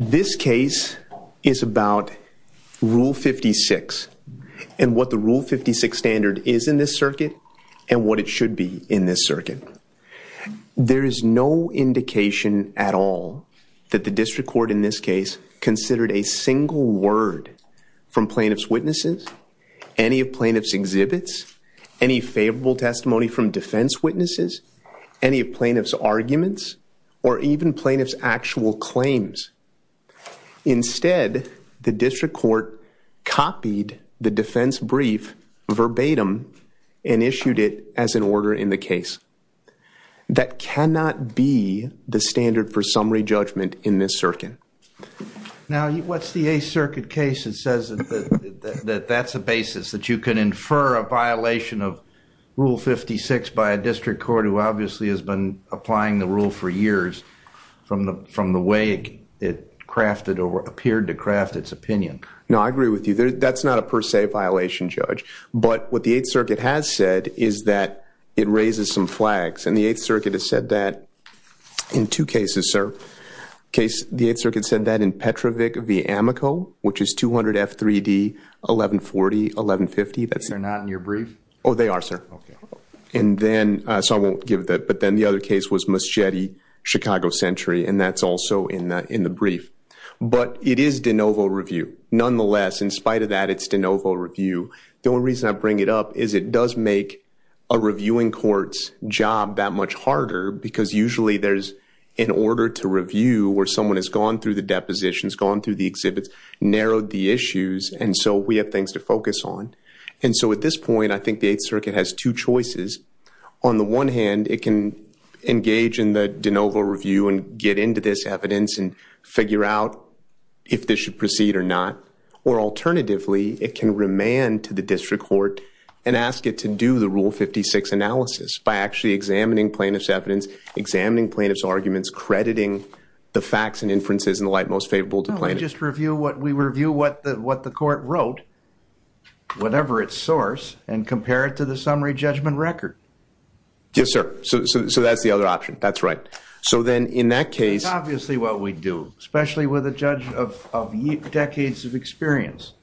This case is about Rule 56 and what the Rule 56 standard is in this circuit and what it should be in this circuit. There is no indication at all that the district court in this case considered a single word from plaintiff's witnesses, any of plaintiff's exhibits, any favorable testimony from defense witnesses, any of plaintiff's arguments, or even plaintiff's claims. Instead, the district court copied the defense brief verbatim and issued it as an order in the case. That cannot be the standard for summary judgment in this circuit. Now, what's the Eighth Circuit case that says that that's a basis that you can infer a violation of district court who obviously has been applying the rule for years from the way it crafted or appeared to craft its opinion? No, I agree with you. That's not a per se violation, Judge. But what the Eighth Circuit has said is that it raises some flags. And the Eighth Circuit has said that in two cases, sir. The Eighth Circuit said that in Petrovic v. Amico, which is 200 F3D 1140, 1150. They're not in your brief? Oh, they are, sir. And then, so I won't give that, but then the other case was Muschietti v. Chicago Century, and that's also in the brief. But it is de novo review. Nonetheless, in spite of that, it's de novo review. The only reason I bring it up is it does make a reviewing court's job that much harder because usually there's an order to review where someone has gone through the depositions, gone through the exhibits, narrowed the issues, and so we have things to focus on. And so at this point, I think the Eighth Circuit has two choices. On the one hand, it can engage in the de novo review and get into this evidence and figure out if this should proceed or not. Or alternatively, it can remand to the district court and ask it to do the Rule 56 analysis by actually examining plaintiff's evidence, examining plaintiff's arguments, crediting the facts and inferences in the case. Let me just review what the court wrote, whatever its source, and compare it to the summary judgment record. Yes, sir. So that's the other option. That's right. So then in that case... That's obviously what we do, especially with a judge of decades of experience.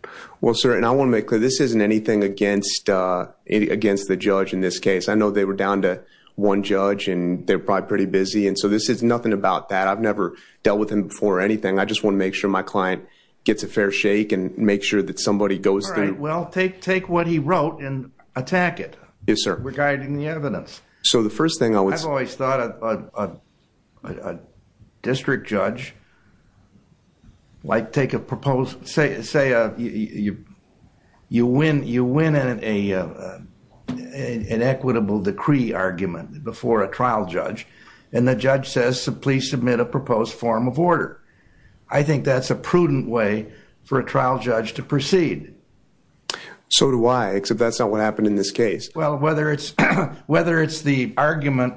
Well, sir, and I want to make clear, this isn't anything against the judge in this case. I know they were down to one judge, and they're probably pretty busy, and so this is nothing about that. I've never dealt with him before or anything. I just want to make sure my client gets a fair shake and make sure that somebody goes through... All right. Well, take what he wrote and attack it. Yes, sir. Regarding the evidence. So the first thing I would... I've always thought a district judge might take a proposed... Say you win an equitable decree argument before a trial judge, and the judge says, please submit a proposed form of order. I think that's a prudent way for a trial judge to proceed. So do I, except that's not what happened in this case. Well, whether it's the argument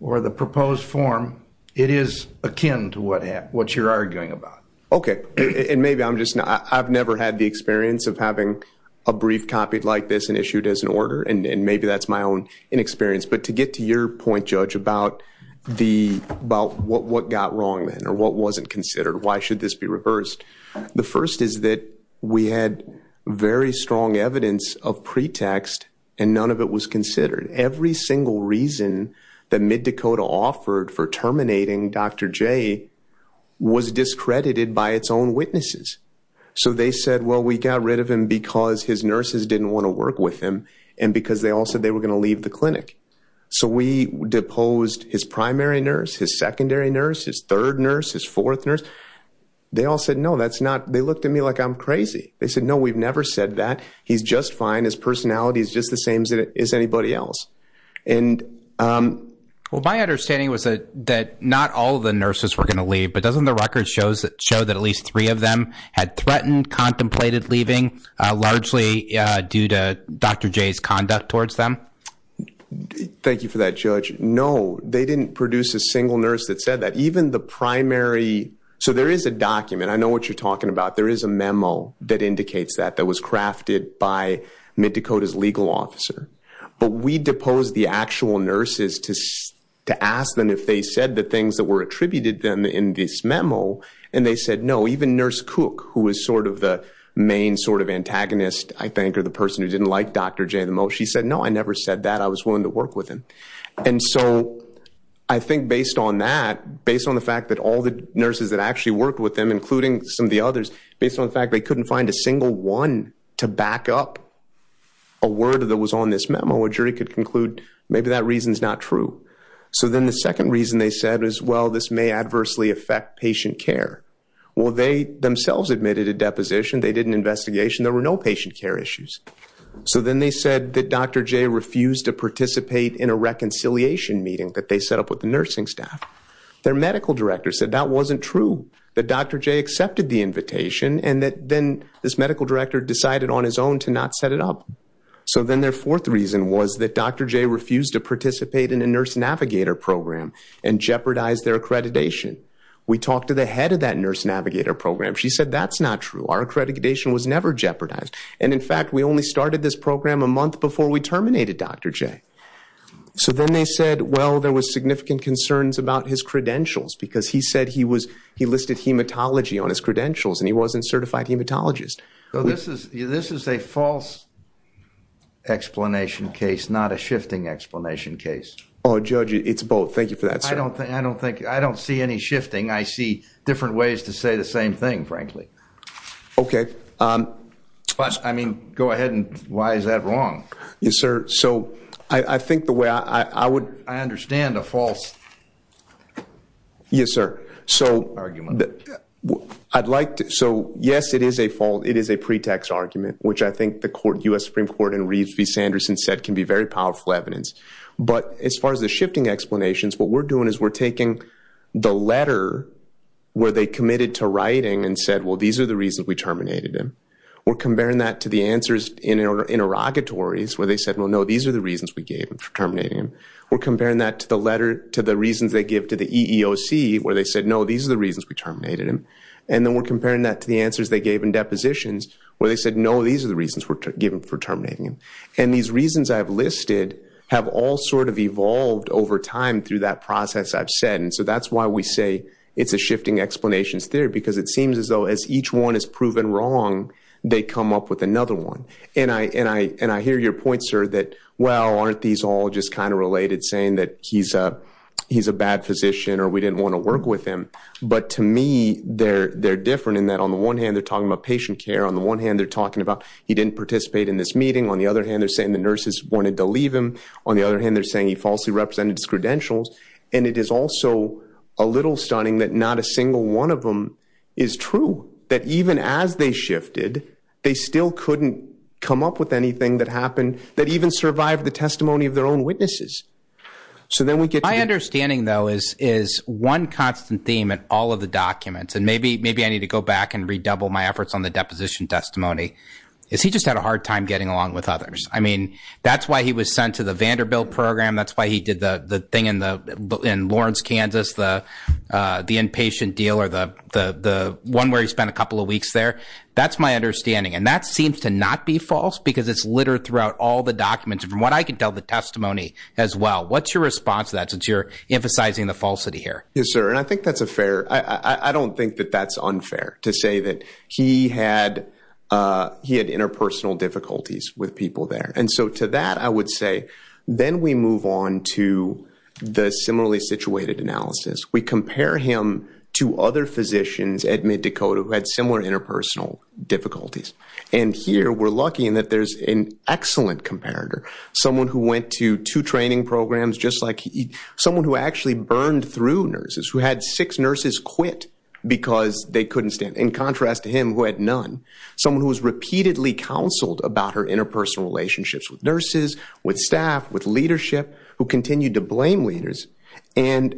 or the proposed form, it is akin to what you're arguing about. Okay. And maybe I'm just... I've never had the experience of having a brief copied like this issued as an order, and maybe that's my own inexperience. But to get to your point, judge, about what got wrong then or what wasn't considered, why should this be reversed? The first is that we had very strong evidence of pretext, and none of it was considered. Every single reason that Mid-Dakota offered for terminating Dr. J was discredited by its own and because they all said they were going to leave the clinic. So we deposed his primary nurse, his secondary nurse, his third nurse, his fourth nurse. They all said, no, that's not... They looked at me like I'm crazy. They said, no, we've never said that. He's just fine. His personality is just the same as anybody else. Well, my understanding was that not all of the nurses were going to leave, but doesn't the record show that at least three of them had threatened, contemplated leaving, largely due to Dr. J's conduct towards them? Thank you for that, judge. No, they didn't produce a single nurse that said that. Even the primary... So there is a document. I know what you're talking about. There is a memo that indicates that, that was crafted by Mid-Dakota's legal officer. But we deposed the actual nurses to ask them if they said the things that were attributed to them in this memo, and they said, no. Even Nurse Cook, who was sort of the main sort of antagonist, I think, or the person who didn't like Dr. J the most, she said, no, I never said that. I was willing to work with him. And so I think based on that, based on the fact that all the nurses that actually worked with them, including some of the others, based on the fact they couldn't find a single one to back up a word that was on this memo, a jury could conclude maybe that reason's not true. So then the second reason they said is, well, this may adversely affect patient care. Well, they themselves admitted a deposition. They did an investigation. There were no patient care issues. So then they said that Dr. J refused to participate in a reconciliation meeting that they set up with the nursing staff. Their medical director said that wasn't true, that Dr. J accepted the invitation, and that then this medical director decided on his own to not set it up. So then their fourth reason was that Dr. J refused to participate in a nurse navigator program and jeopardized their accreditation. We talked to the head of that nurse navigator program. She said, that's not true. Our accreditation was never jeopardized. And in fact, we only started this program a month before we terminated Dr. J. So then they said, well, there was significant concerns about his credentials, because he said he listed hematology on his credentials, and he wasn't a certified hematologist. So this is a false explanation case, not a shifting explanation case. Oh, Judge, it's both. Thank you for that, sir. I don't see any shifting. I see different ways to say the same thing, frankly. OK. I mean, go ahead and why is that wrong? Yes, sir. So I think the way I would- I understand a false argument. Yes, sir. So I'd like to- It is a pretext argument, which I think the U.S. Supreme Court and Reeves v. Sanderson said can be very powerful evidence. But as far as the shifting explanations, what we're doing is we're taking the letter where they committed to writing and said, well, these are the reasons we terminated him. We're comparing that to the answers in interrogatories where they said, well, no, these are the reasons we gave for terminating him. We're comparing that to the letter to the reasons they give to the EEOC where they said, no, these are the reasons we terminated him. And then we're comparing that to the answers they gave in depositions where they said, no, these are the reasons we're given for terminating him. And these reasons I've listed have all sort of evolved over time through that process I've said. And so that's why we say it's a shifting explanations theory, because it seems as though as each one is proven wrong, they come up with another one. And I hear your point, sir, that, well, aren't these all just kind of related, saying that he's a bad physician or we didn't want to work with him? But to me, they're different in that on the one hand, they're talking about patient care. On the one hand, they're talking about he didn't participate in this meeting. On the other hand, they're saying the nurses wanted to leave him. On the other hand, they're saying he falsely represented his credentials. And it is also a little stunning that not a single one of them is true, that even as they shifted, they still couldn't come up with anything that happened that even survived the testimony of their own witnesses. So then we get to the... My understanding, though, is one constant theme in all of the documents, and maybe I need to go back and redouble my efforts on the deposition testimony, is he just had a hard time getting along with others. I mean, that's why he was sent to the Vanderbilt program. That's why he did the thing in Lawrence, Kansas, the inpatient deal or the one where he spent a couple of weeks there. That's my understanding. And that seems to not be false, because it's the testimony as well. What's your response to that since you're emphasizing the falsity here? Yes, sir. And I think that's a fair... I don't think that that's unfair to say that he had interpersonal difficulties with people there. And so to that, I would say, then we move on to the similarly situated analysis. We compare him to other physicians at MidDakota who had similar interpersonal difficulties. And here, we're lucky in that there's an excellent comparator, someone who went to two training programs, just like someone who actually burned through nurses, who had six nurses quit because they couldn't stand it, in contrast to him who had none. Someone who was repeatedly counseled about her interpersonal relationships with nurses, with staff, with leadership, who continued to blame leaders, and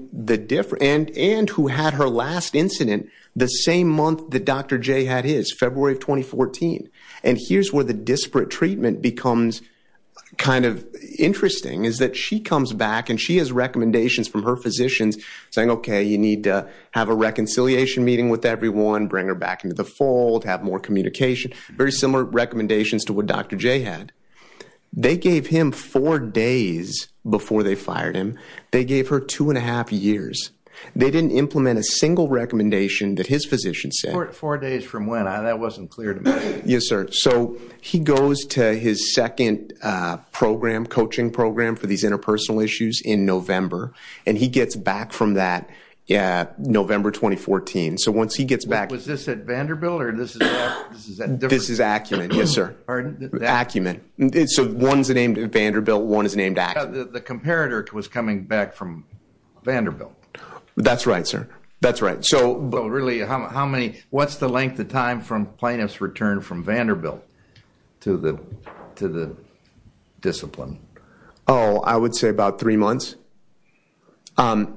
who had her last incident the same month that Dr. J had his, February of 2014. And here's where the disparate treatment becomes kind of interesting, is that she comes back and she has recommendations from her physicians saying, okay, you need to have a reconciliation meeting with everyone, bring her back into the fold, have more communication. Very similar recommendations to what Dr. J had. They gave him four days before they fired him. They gave her two and a half years. They didn't implement a single recommendation that his physician said. Yes, sir. So he goes to his second program, coaching program for these interpersonal issues in November. And he gets back from that November 2014. So once he gets back... Was this at Vanderbilt or this is at... This is Acumen, yes, sir. Pardon? Acumen. So one's named Vanderbilt, one is named Acumen. The comparator was coming back from Vanderbilt. That's right, sir. That's right. So... The time from plaintiff's return from Vanderbilt to the discipline? Oh, I would say about three months. But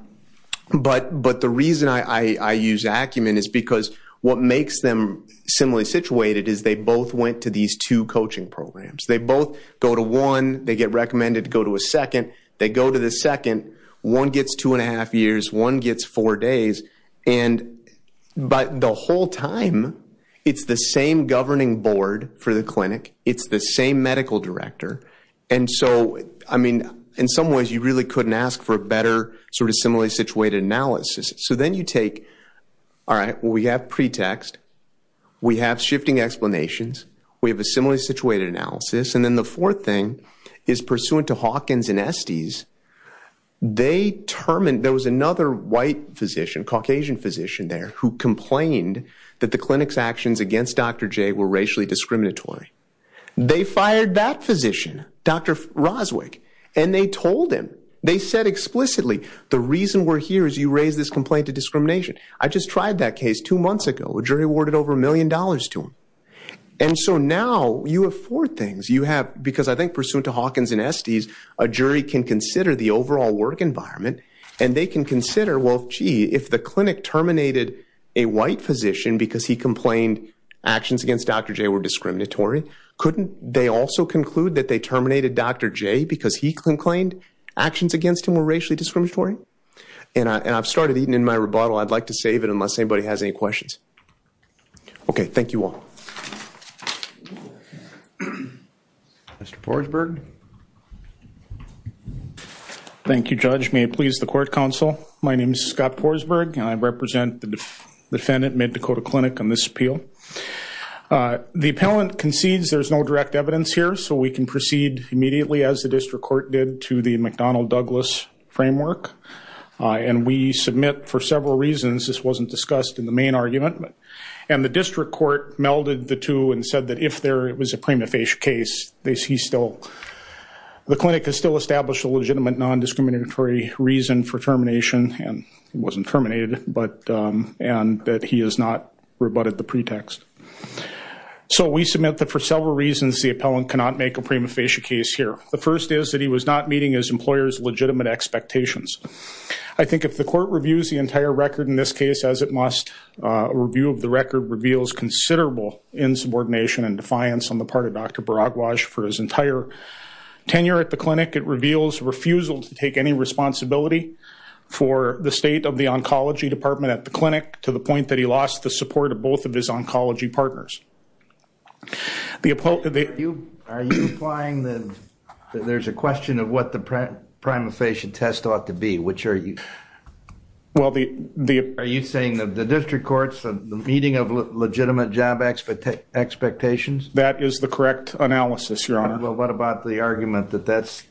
the reason I use Acumen is because what makes them similarly situated is they both went to these two coaching programs. They both go to one, they get recommended to go to a second, they go to the second, one gets two and a half years, one gets four days. But the whole time, it's the same governing board for the clinic, it's the same medical director. And so, I mean, in some ways, you really couldn't ask for a better sort of similarly situated analysis. So then you take, all right, we have pretext, we have shifting explanations, we have a similarly situated analysis. And then the fourth thing is pursuant to Hawkins and Estes, they determined there was another white physician, Caucasian physician there, who complained that the clinic's actions against Dr. J were racially discriminatory. They fired that physician, Dr. Roswick, and they told him, they said explicitly, the reason we're here is you raise this complaint of discrimination. I just tried that case two months ago, a jury awarded over a million dollars to him. And so now you have four things. You have, because I think pursuant to Hawkins and Estes, a jury can consider the overall work environment, and they can consider, well, gee, if the clinic terminated a white physician because he complained actions against Dr. J were discriminatory, couldn't they also conclude that they terminated Dr. J because he complained actions against him were racially discriminatory? And I've started eating in my rebuttal. I'd like to save it unless anybody has any questions. Okay, thank you all. Mr. Poresberg. Thank you, Judge. May it please the court counsel, my name is Scott Poresberg, and I represent the defendant, Mid-Dakota Clinic, on this appeal. The appellant concedes there's no direct evidence here, so we can proceed immediately, as the district court did, to the McDonnell-Douglas framework. And we submit for several reasons, this wasn't discussed in the main argument, and the district court melded the two and if there was a prima facie case, the clinic has still established a legitimate non-discriminatory reason for termination, and it wasn't terminated, and that he has not rebutted the pretext. So we submit that for several reasons the appellant cannot make a prima facie case here. The first is that he was not meeting his employer's legitimate expectations. I think if the court reviews the entire record in this case, as it must, a review of the record reveals considerable insubordination and defiance on the part of Dr. Baragwaj for his entire tenure at the clinic. It reveals refusal to take any responsibility for the state of the oncology department at the clinic, to the point that he lost the support of both of his oncology partners. Are you implying that there's a question of what the meeting of legitimate job expectations? That is the correct analysis, your honor. What about the argument that that's,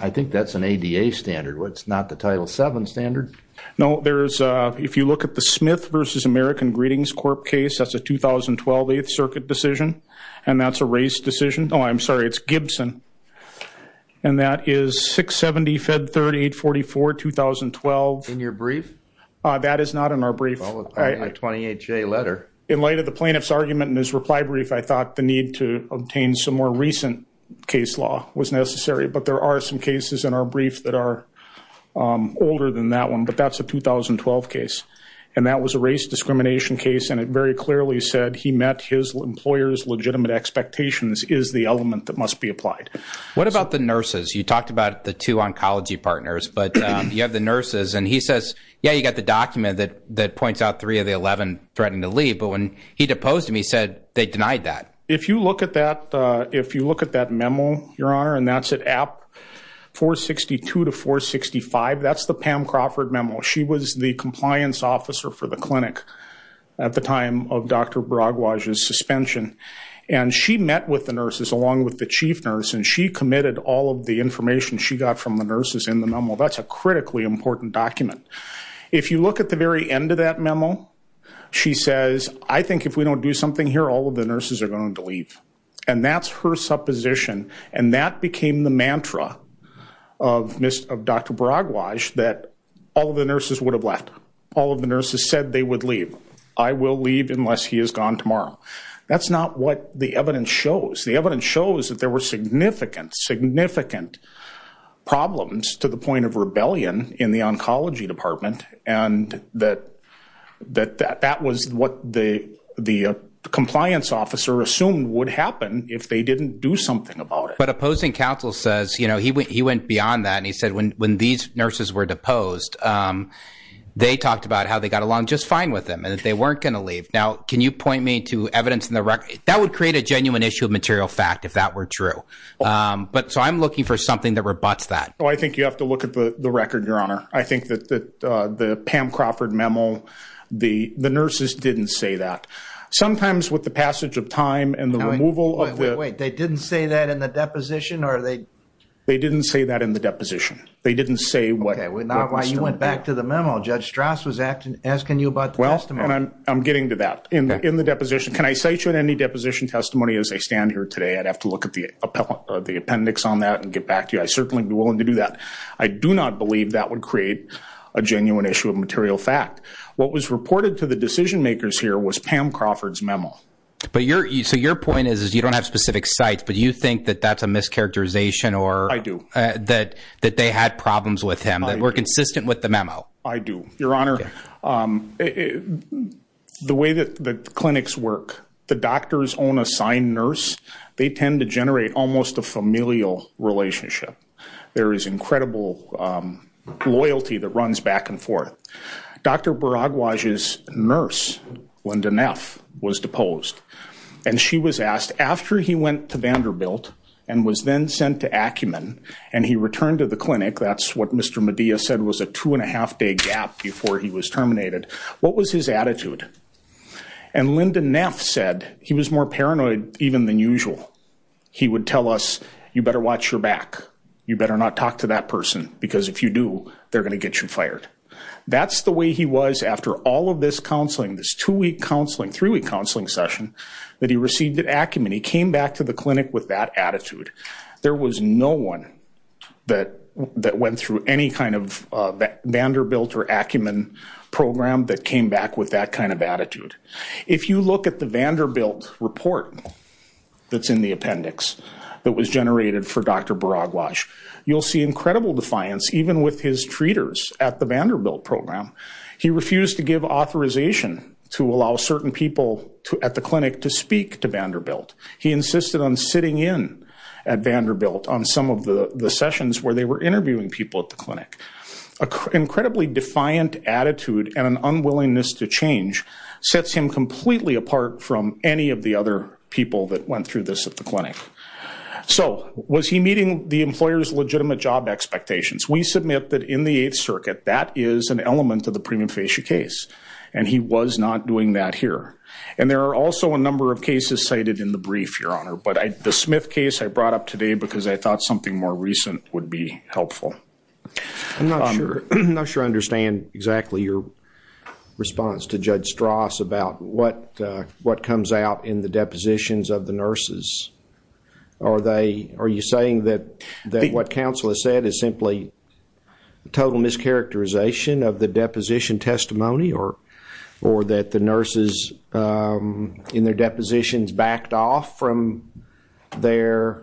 I think that's an ADA standard, it's not the Title VII standard? No, there's, if you look at the Smith versus American Greetings Corp case, that's a 2012 8th Circuit decision, and that's a race decision, oh I'm sorry, it's Gibson, and that is 670 Fed 3844, 2012. In your brief? That is not in our brief. In light of the plaintiff's argument in his reply brief, I thought the need to obtain some more recent case law was necessary, but there are some cases in our brief that are older than that one, but that's a 2012 case, and that was a race discrimination case, and it very clearly said he met his employer's legitimate expectations, is the element that must be applied. What about the nurses? You talked about the two oncology partners, but you have the nurses, and he says, yeah, you got the document that points out three of the 11 threatening to leave, but when he deposed him, he said they denied that. If you look at that, if you look at that memo, your honor, and that's at app 462 to 465, that's the Pam Crawford memo. She was the compliance officer for the clinic at the time of Dr. Braguage's suspension, and she met with the nurses along with the chief nurse, and she committed all of the information she got from the nurses in the memo. That's a critically important document. If you look at the very end of that memo, she says, I think if we don't do something here, all of the nurses are going to leave, and that's her supposition, and that became the mantra of Dr. Braguage that all of the nurses would have left. All of the nurses said they would leave. I will leave unless he is gone tomorrow. That's not what the evidence shows. The evidence shows that there were significant, significant problems to the point of rebellion in the oncology department, and that that was what the compliance officer assumed would happen if they didn't do something about it. But opposing counsel says, you know, he went beyond that, and he said when these nurses were deposed, they talked about how they got along just fine with them, and that they weren't going to leave. Now, can you point me to evidence in the record? That would create a genuine issue of material fact if that were true, but so I'm looking for something that rebutts that. Well, I think you have to look at the record, Your Honor. I think that the Pam Crawford memo, the nurses didn't say that. Sometimes with the passage of time and the removal of the- Wait, they didn't say that in the deposition, or they- They didn't say that in the deposition. They didn't say- Okay, now why you went back to the memo, Judge Strauss was asking you about the testimony. I'm getting to that. In the deposition, can I cite you in any deposition testimony as I stand here today? I'd have to look at the appendix on that and get back to you. I'd certainly be willing to do that. I do not believe that would create a genuine issue of material fact. What was reported to the decision makers here was Pam Crawford's memo. So your point is you don't have specific sites, but you think that that's a mischaracterization or- I do. I do. Your Honor, the way that the clinics work, the doctor's own assigned nurse, they tend to generate almost a familial relationship. There is incredible loyalty that runs back and forth. Dr. Baragwaj's nurse, Linda Neff, was deposed. And she was asked, after he went to Vanderbilt and was then sent to Acumen and he returned to the clinic, that's what Mr. Medea said was a two and a half day gap before he was terminated, what was his attitude? And Linda Neff said he was more paranoid even than usual. He would tell us, you better watch your back. You better not talk to that person because if you do, they're going to get you fired. That's the way he was after all of this counseling, this two-week counseling, three-week counseling session that he received at Acumen. He came back to the clinic with that attitude. There was no one that went through any kind of Vanderbilt or Acumen program that came back with that kind of attitude. If you look at the Vanderbilt report that's in the appendix that was generated for Dr. Baragwaj, you'll see incredible defiance even with his treaters at the Vanderbilt program. He refused to give authorization to allow certain people at the clinic to speak to Vanderbilt. He insisted on sitting in at Vanderbilt on some of the sessions where they were interviewing people at the clinic. Incredibly defiant attitude and an unwillingness to change sets him completely apart from any of the other people that went through this at the clinic. So was he meeting the employer's legitimate job expectations? We submit that in the Eighth Circuit, that is an element of the premium facie case and he was not doing that here. And there are also a number of cases cited in the Smith case I brought up today because I thought something more recent would be helpful. I'm not sure I understand exactly your response to Judge Stross about what comes out in the depositions of the nurses. Are you saying that what counsel has said is simply a total mischaracterization of the deposition testimony or that the nurses in their depositions backed off from their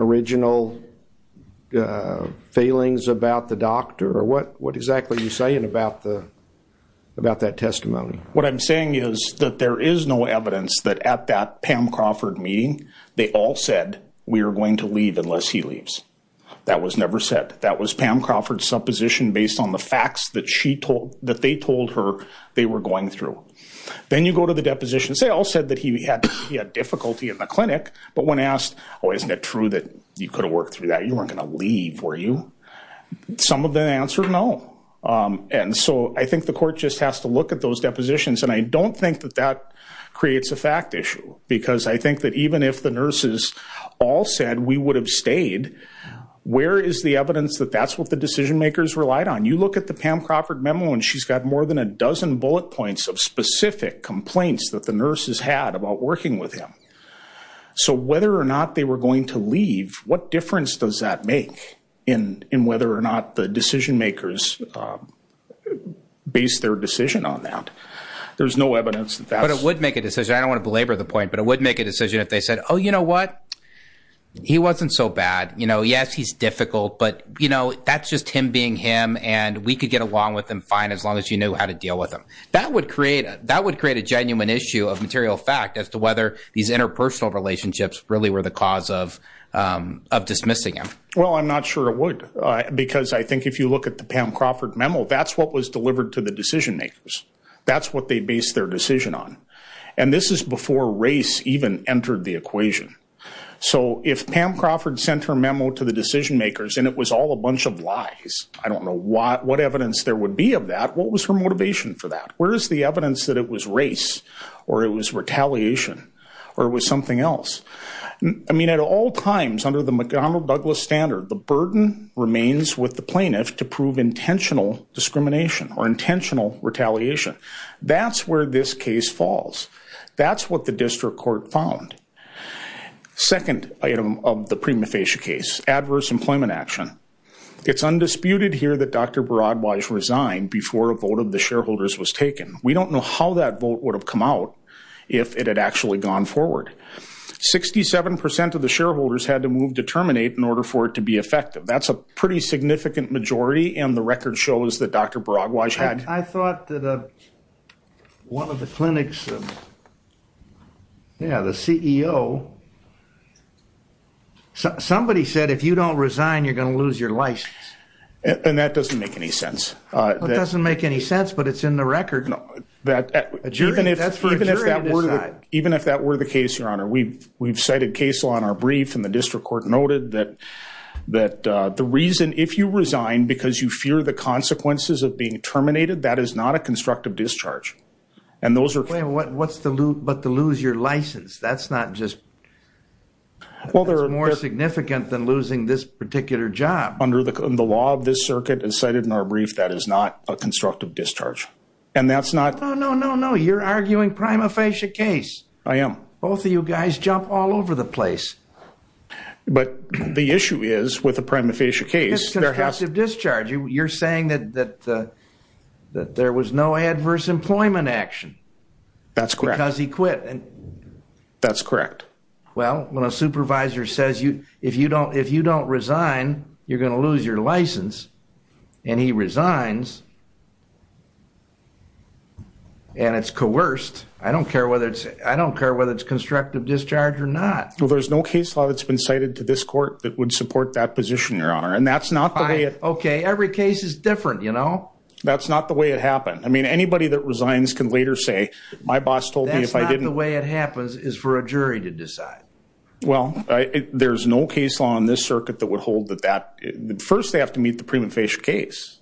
original feelings about the doctor? What exactly are you saying about that testimony? What I'm saying is that there is no evidence that at that Pam Crawford meeting they all said we are going to leave unless he leaves. That was never said. That was Pam Crawford's supposition based on the facts that they told her they were going through. Then you go to the depositions, they all said that he had difficulty in the clinic, but when asked, oh isn't it true that you could have worked through that, you weren't going to leave, were you? Some of them answered no. And so I think the court just has to look at those depositions and I don't think that that creates a fact issue because I think that even if the nurses all said we would have stayed, where is the evidence that that's what the decision makers relied on? You look at the Pam Crawford memo and she's got more than a dozen bullet points of specific complaints that the nurses had about working with him. So whether or not they were going to leave, what difference does that make in whether or not the decision makers based their decision on that? There's no evidence that that's... But it would make a decision, I don't want to belabor the point, but it would make a decision if they said, oh, you know what? He wasn't so bad. Yes, he's difficult, but that's just him being him and we could get along with him fine as long as you knew how to deal with him. That would create a genuine issue of material fact as to whether these interpersonal relationships really were the cause of dismissing him. Well, I'm not sure it would because I think if you look at the Pam Crawford memo, that's what was delivered to the decision makers. That's what they based their decision on. And this is before race even entered the equation. So if Pam Crawford sent her memo to the decision makers and it was all a bunch of lies, I don't know what evidence there would be of that. What was her motivation for that? Where's the evidence that it was race or it was retaliation or it was something else? I mean, at all times under the McDonnell Douglas standard, the burden remains with the plaintiff to prove intentional discrimination or intentional retaliation. That's where this case falls. That's what the district court found. Second item of the prima facie case, adverse employment action. It's undisputed here that Dr. Baragwaj resigned before a vote of the shareholders was taken. We don't know how that vote would have come out if it had actually gone forward. 67% of the shareholders had to move to terminate in order for it to be effective. That's a pretty significant majority and the record shows that Dr. Baragwaj had- I thought that one of the clinics, yeah, the CEO, somebody said, if you don't resign, you're going to lose your license. And that doesn't make any sense. It doesn't make any sense, but it's in the record. Even if that were the case, your honor, we've cited case law in our brief and the district court noted that the reason if you resign because you fear the consequences of being terminated, that is not a constructive discharge. And what's the loop, but to lose your license, that's not just, that's more significant than losing this particular job. Under the law of this circuit and cited in our brief, that is not a constructive discharge. And that's not- No, no, no, no. You're arguing prima facie case. I am. Both of you guys jump all over the place. But the issue is with the prima facie case- You're saying that there was no adverse employment action because he quit. That's correct. Well, when a supervisor says, if you don't resign, you're going to lose your license, and he resigns, and it's coerced. I don't care whether it's constructive discharge or not. There's no case law that's been cited to this court that would support that position, and that's not the way it- Okay. Every case is different, you know? That's not the way it happened. I mean, anybody that resigns can later say, my boss told me if I didn't- That's not the way it happens is for a jury to decide. Well, there's no case law on this circuit that would hold that. First, they have to meet the prima facie case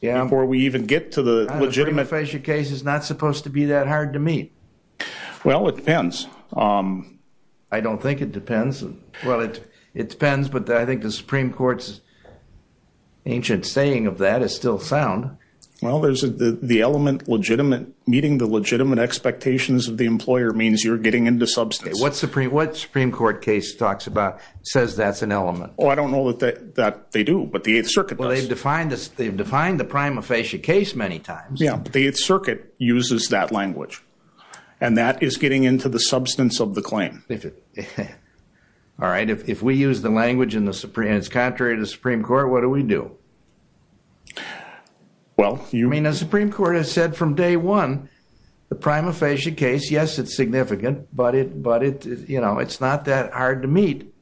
before we even get to the legitimate- The prima facie case is not supposed to be that hard to meet. Well, it depends. I don't think it depends. Well, it depends, but I think the Supreme Court's ancient saying of that is still sound. Well, meeting the legitimate expectations of the employer means you're getting into substance. What Supreme Court case talks about says that's an element? Oh, I don't know that they do, but the Eighth Circuit does. Well, they've defined the prima facie case many times. The Eighth Circuit uses that language, and that is getting into the substance of the claim. All right. If we use the language and it's contrary to the Supreme Court, what do we do? Well, you- I mean, the Supreme Court has said from day one, the prima facie case, yes, it's significant, but it's not that hard to meet.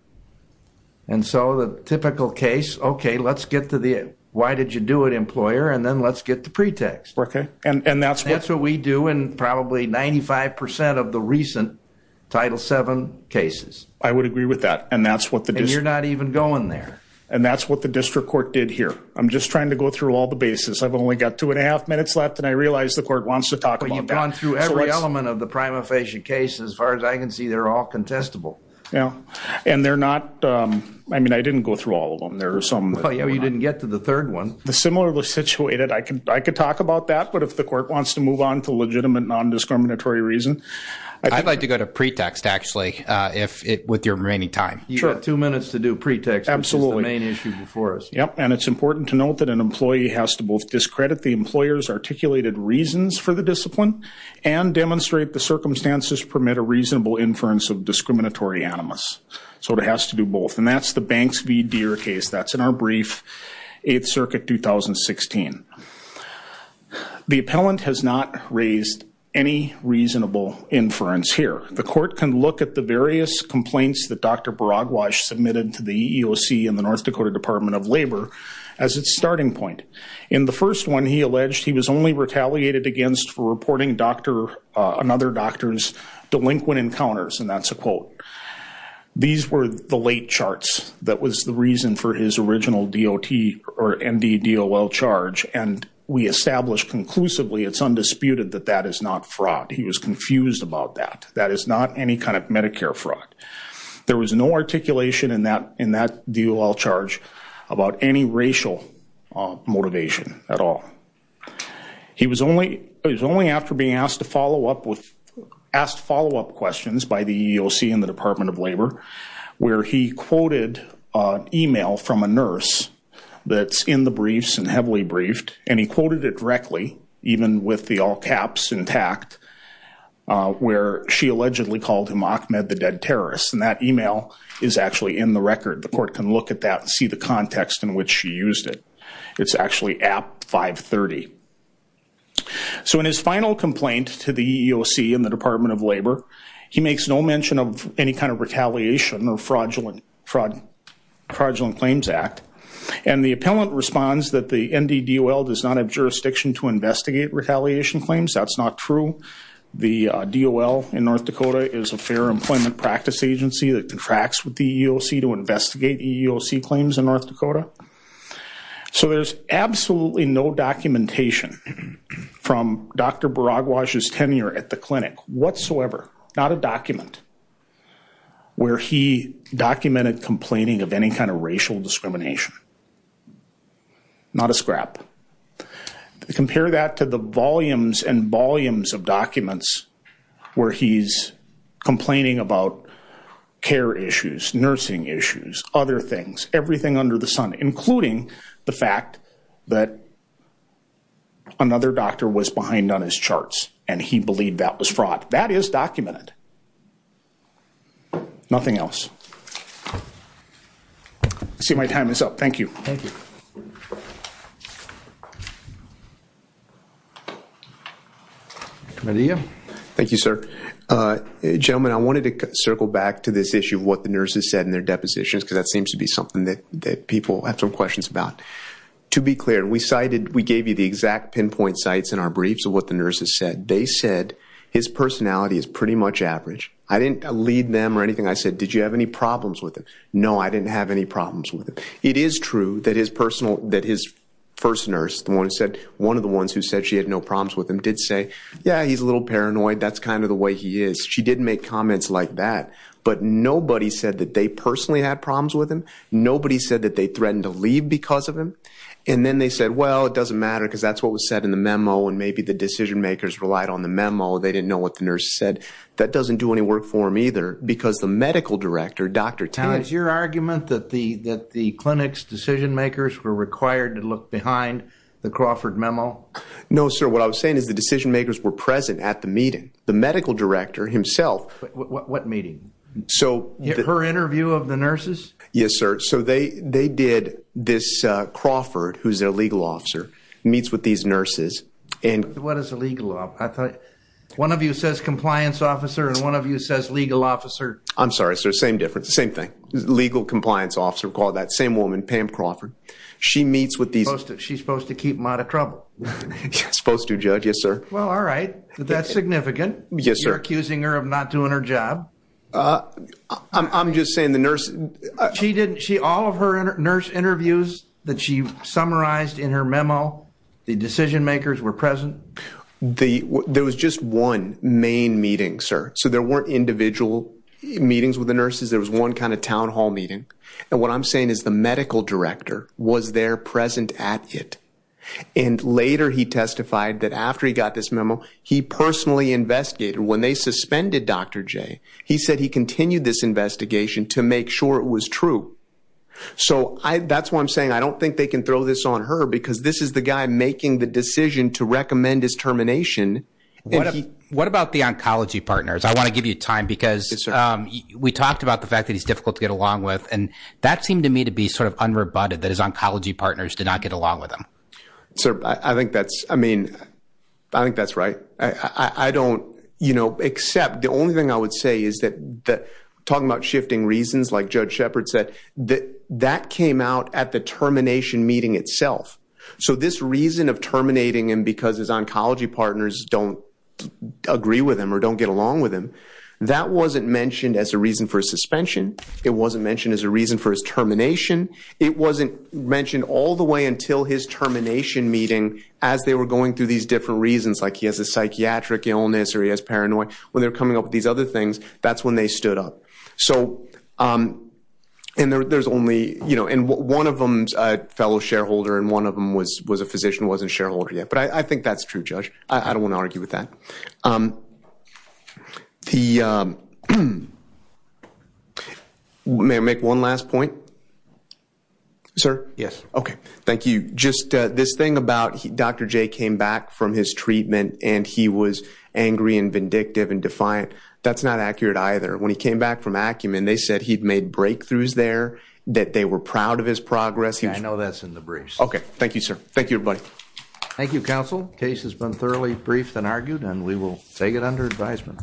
And so the typical case, okay, let's get to the, why did you do it, employer? And then let's get the pretext. And that's what- That's what we do in probably 95% of the recent Title VII cases. I would agree with that. And that's what the- And you're not even going there. And that's what the district court did here. I'm just trying to go through all the bases. I've only got two and a half minutes left, and I realize the court wants to talk about- But you've gone through every element of the prima facie case. As far as I can see, they're all contestable. Yeah. And they're not, I mean, I didn't go through all of them. There are some- Well, you didn't get to the third one. The similarly situated, I could talk about that, but if the court wants to move on to legitimate non-discriminatory reason, I think- I'd like to go to pretext, actually, with your remaining time. Sure. You've got two minutes to do pretext. Absolutely. Which is the main issue before us. Yep. And it's important to note that an employee has to both discredit the employer's articulated reasons for the discipline and demonstrate the circumstances permit a reasonable inference of discriminatory animus. So it has to do both. And that's the Banks v. Deere case. That's in our brief, 8th Circuit, 2016. The appellant has not raised any reasonable inference here. The court can look at the various complaints that Dr. Baragwaj submitted to the EEOC and the North Dakota Department of Labor as its starting point. In the first one, he alleged he was only retaliated against for reporting another doctor's delinquent encounters. And that's a quote. These were the late charts that was the reason for his original DOT or NDDOL charge. And we established conclusively, it's undisputed, that that is not fraud. He was confused about that. That is not any kind of Medicare fraud. There was no articulation in that DOL charge about any racial motivation at all. He was only after being asked follow-up questions by the EEOC and the Department of Labor, where he quoted an email from a nurse that's in the briefs and heavily briefed. And he quoted it directly, even with the all caps intact, where she allegedly called him Ahmed the Dead Terrorist. And that email is actually in the record. The court can look at that and see the So in his final complaint to the EEOC and the Department of Labor, he makes no mention of any kind of retaliation or fraudulent claims act. And the appellant responds that the NDDOL does not have jurisdiction to investigate retaliation claims. That's not true. The DOL in North Dakota is a fair employment practice agency that contracts with the EEOC to investigate EEOC claims in North Dakota. So there's absolutely no documentation from Dr. Baragwaj's tenure at the clinic whatsoever. Not a document where he documented complaining of any kind of racial discrimination. Not a scrap. Compare that to the volumes and volumes of documents where he's complaining about care issues, nursing issues, other things, everything under the sun, including the fact that another doctor was behind on his charts and he believed that was fraud. That is documented. Nothing else. I see my time is up. Thank you. Thank you. Thank you sir. Gentlemen, I wanted to circle back to this issue of what the nurses said in their depositions because that seems to be something that people have some questions about. To be clear, we cited, we gave you the exact pinpoint sites in our briefs of what the nurses said. They said his personality is pretty much average. I didn't lead them or anything. I said, did you have any problems with him? No, I didn't have any problems with him. It is true that his personal, that his first nurse, the one who said, one of the ones who said she had no problems with him did say, yeah, he's a little paranoid. That's kind of the way he is. She didn't make comments like that, but nobody said that they personally had problems with him. Nobody said that they threatened to leave because of him. And then they said, well, it doesn't matter because that's what was said in the memo. And maybe the decision makers relied on the memo. They didn't know what the nurse said. That doesn't do any work for him either because the medical director, Dr. Tan. Is your argument that the, that the clinics decision makers were required to look behind the Crawford memo? No, sir. What I was saying is the decision makers were present at the meeting, the medical director himself. What meeting? So her interview of the nurses? Yes, sir. So they, they did this, uh, Crawford, who's their legal officer meets with these nurses. And what is the legal law? I thought one of you says compliance officer. And one of you says legal officer. I'm sorry, sir. Same difference. Same thing. Legal compliance officer called that same woman, Pam Crawford. She meets with these, she's supposed to keep them out of trouble. Supposed to judge. Yes, sir. Well, all right. That's significant. You're accusing her of not doing her job. I'm just saying the nurse, she didn't, she, all of her nurse interviews that she summarized in her memo, the decision makers were present. The, there was just one main meeting, sir. So there weren't individual meetings with the nurses. There was one kind of town hall meeting. And what I'm saying is the medical director was there present at it. And later he testified that after he got this memo, he personally investigated when they suspended Dr. J, he said he continued this investigation to make sure it was true. So I, that's why I'm saying, I don't think they can throw this on her because this is the guy making the decision to recommend his termination. What about the oncology partners? I want to give you time because we talked about the fact that he's difficult to get along with. And that seemed to me to be sort of unrebutted that his oncology partners did not get along with him. Sir, I think that's, I mean, I think that's right. I don't, you know, except the only thing I would say is that talking about shifting reasons, like Judge Shepard said, that came out at the termination meeting itself. So this reason of terminating him because his oncology partners don't agree with him or don't get along with him, that wasn't mentioned as a reason for suspension. It wasn't mentioned as a reason for his termination. It wasn't mentioned all the way until his termination meeting as they were going through these different reasons, like he has a psychiatric illness or he has paranoia. When they're coming up with these other things, that's when they stood up. So, and there's only, you know, and one of them's a fellow shareholder and one of them was a physician, wasn't shareholder yet. But I think that's true, Judge. I don't want to argue with that. May I make one last point, sir? Yes. Okay. Thank you. Just this thing about Dr. J came back from his treatment and he was angry and vindictive and defiant. That's not accurate either. When he came back from Acumen, they said he'd made breakthroughs there, that they were proud of his progress. Yeah, I know that's in the briefs. Okay. Thank you, sir. Thank you, everybody. Thank you, counsel. Case has been thoroughly briefed and argued and we will take it under advisement.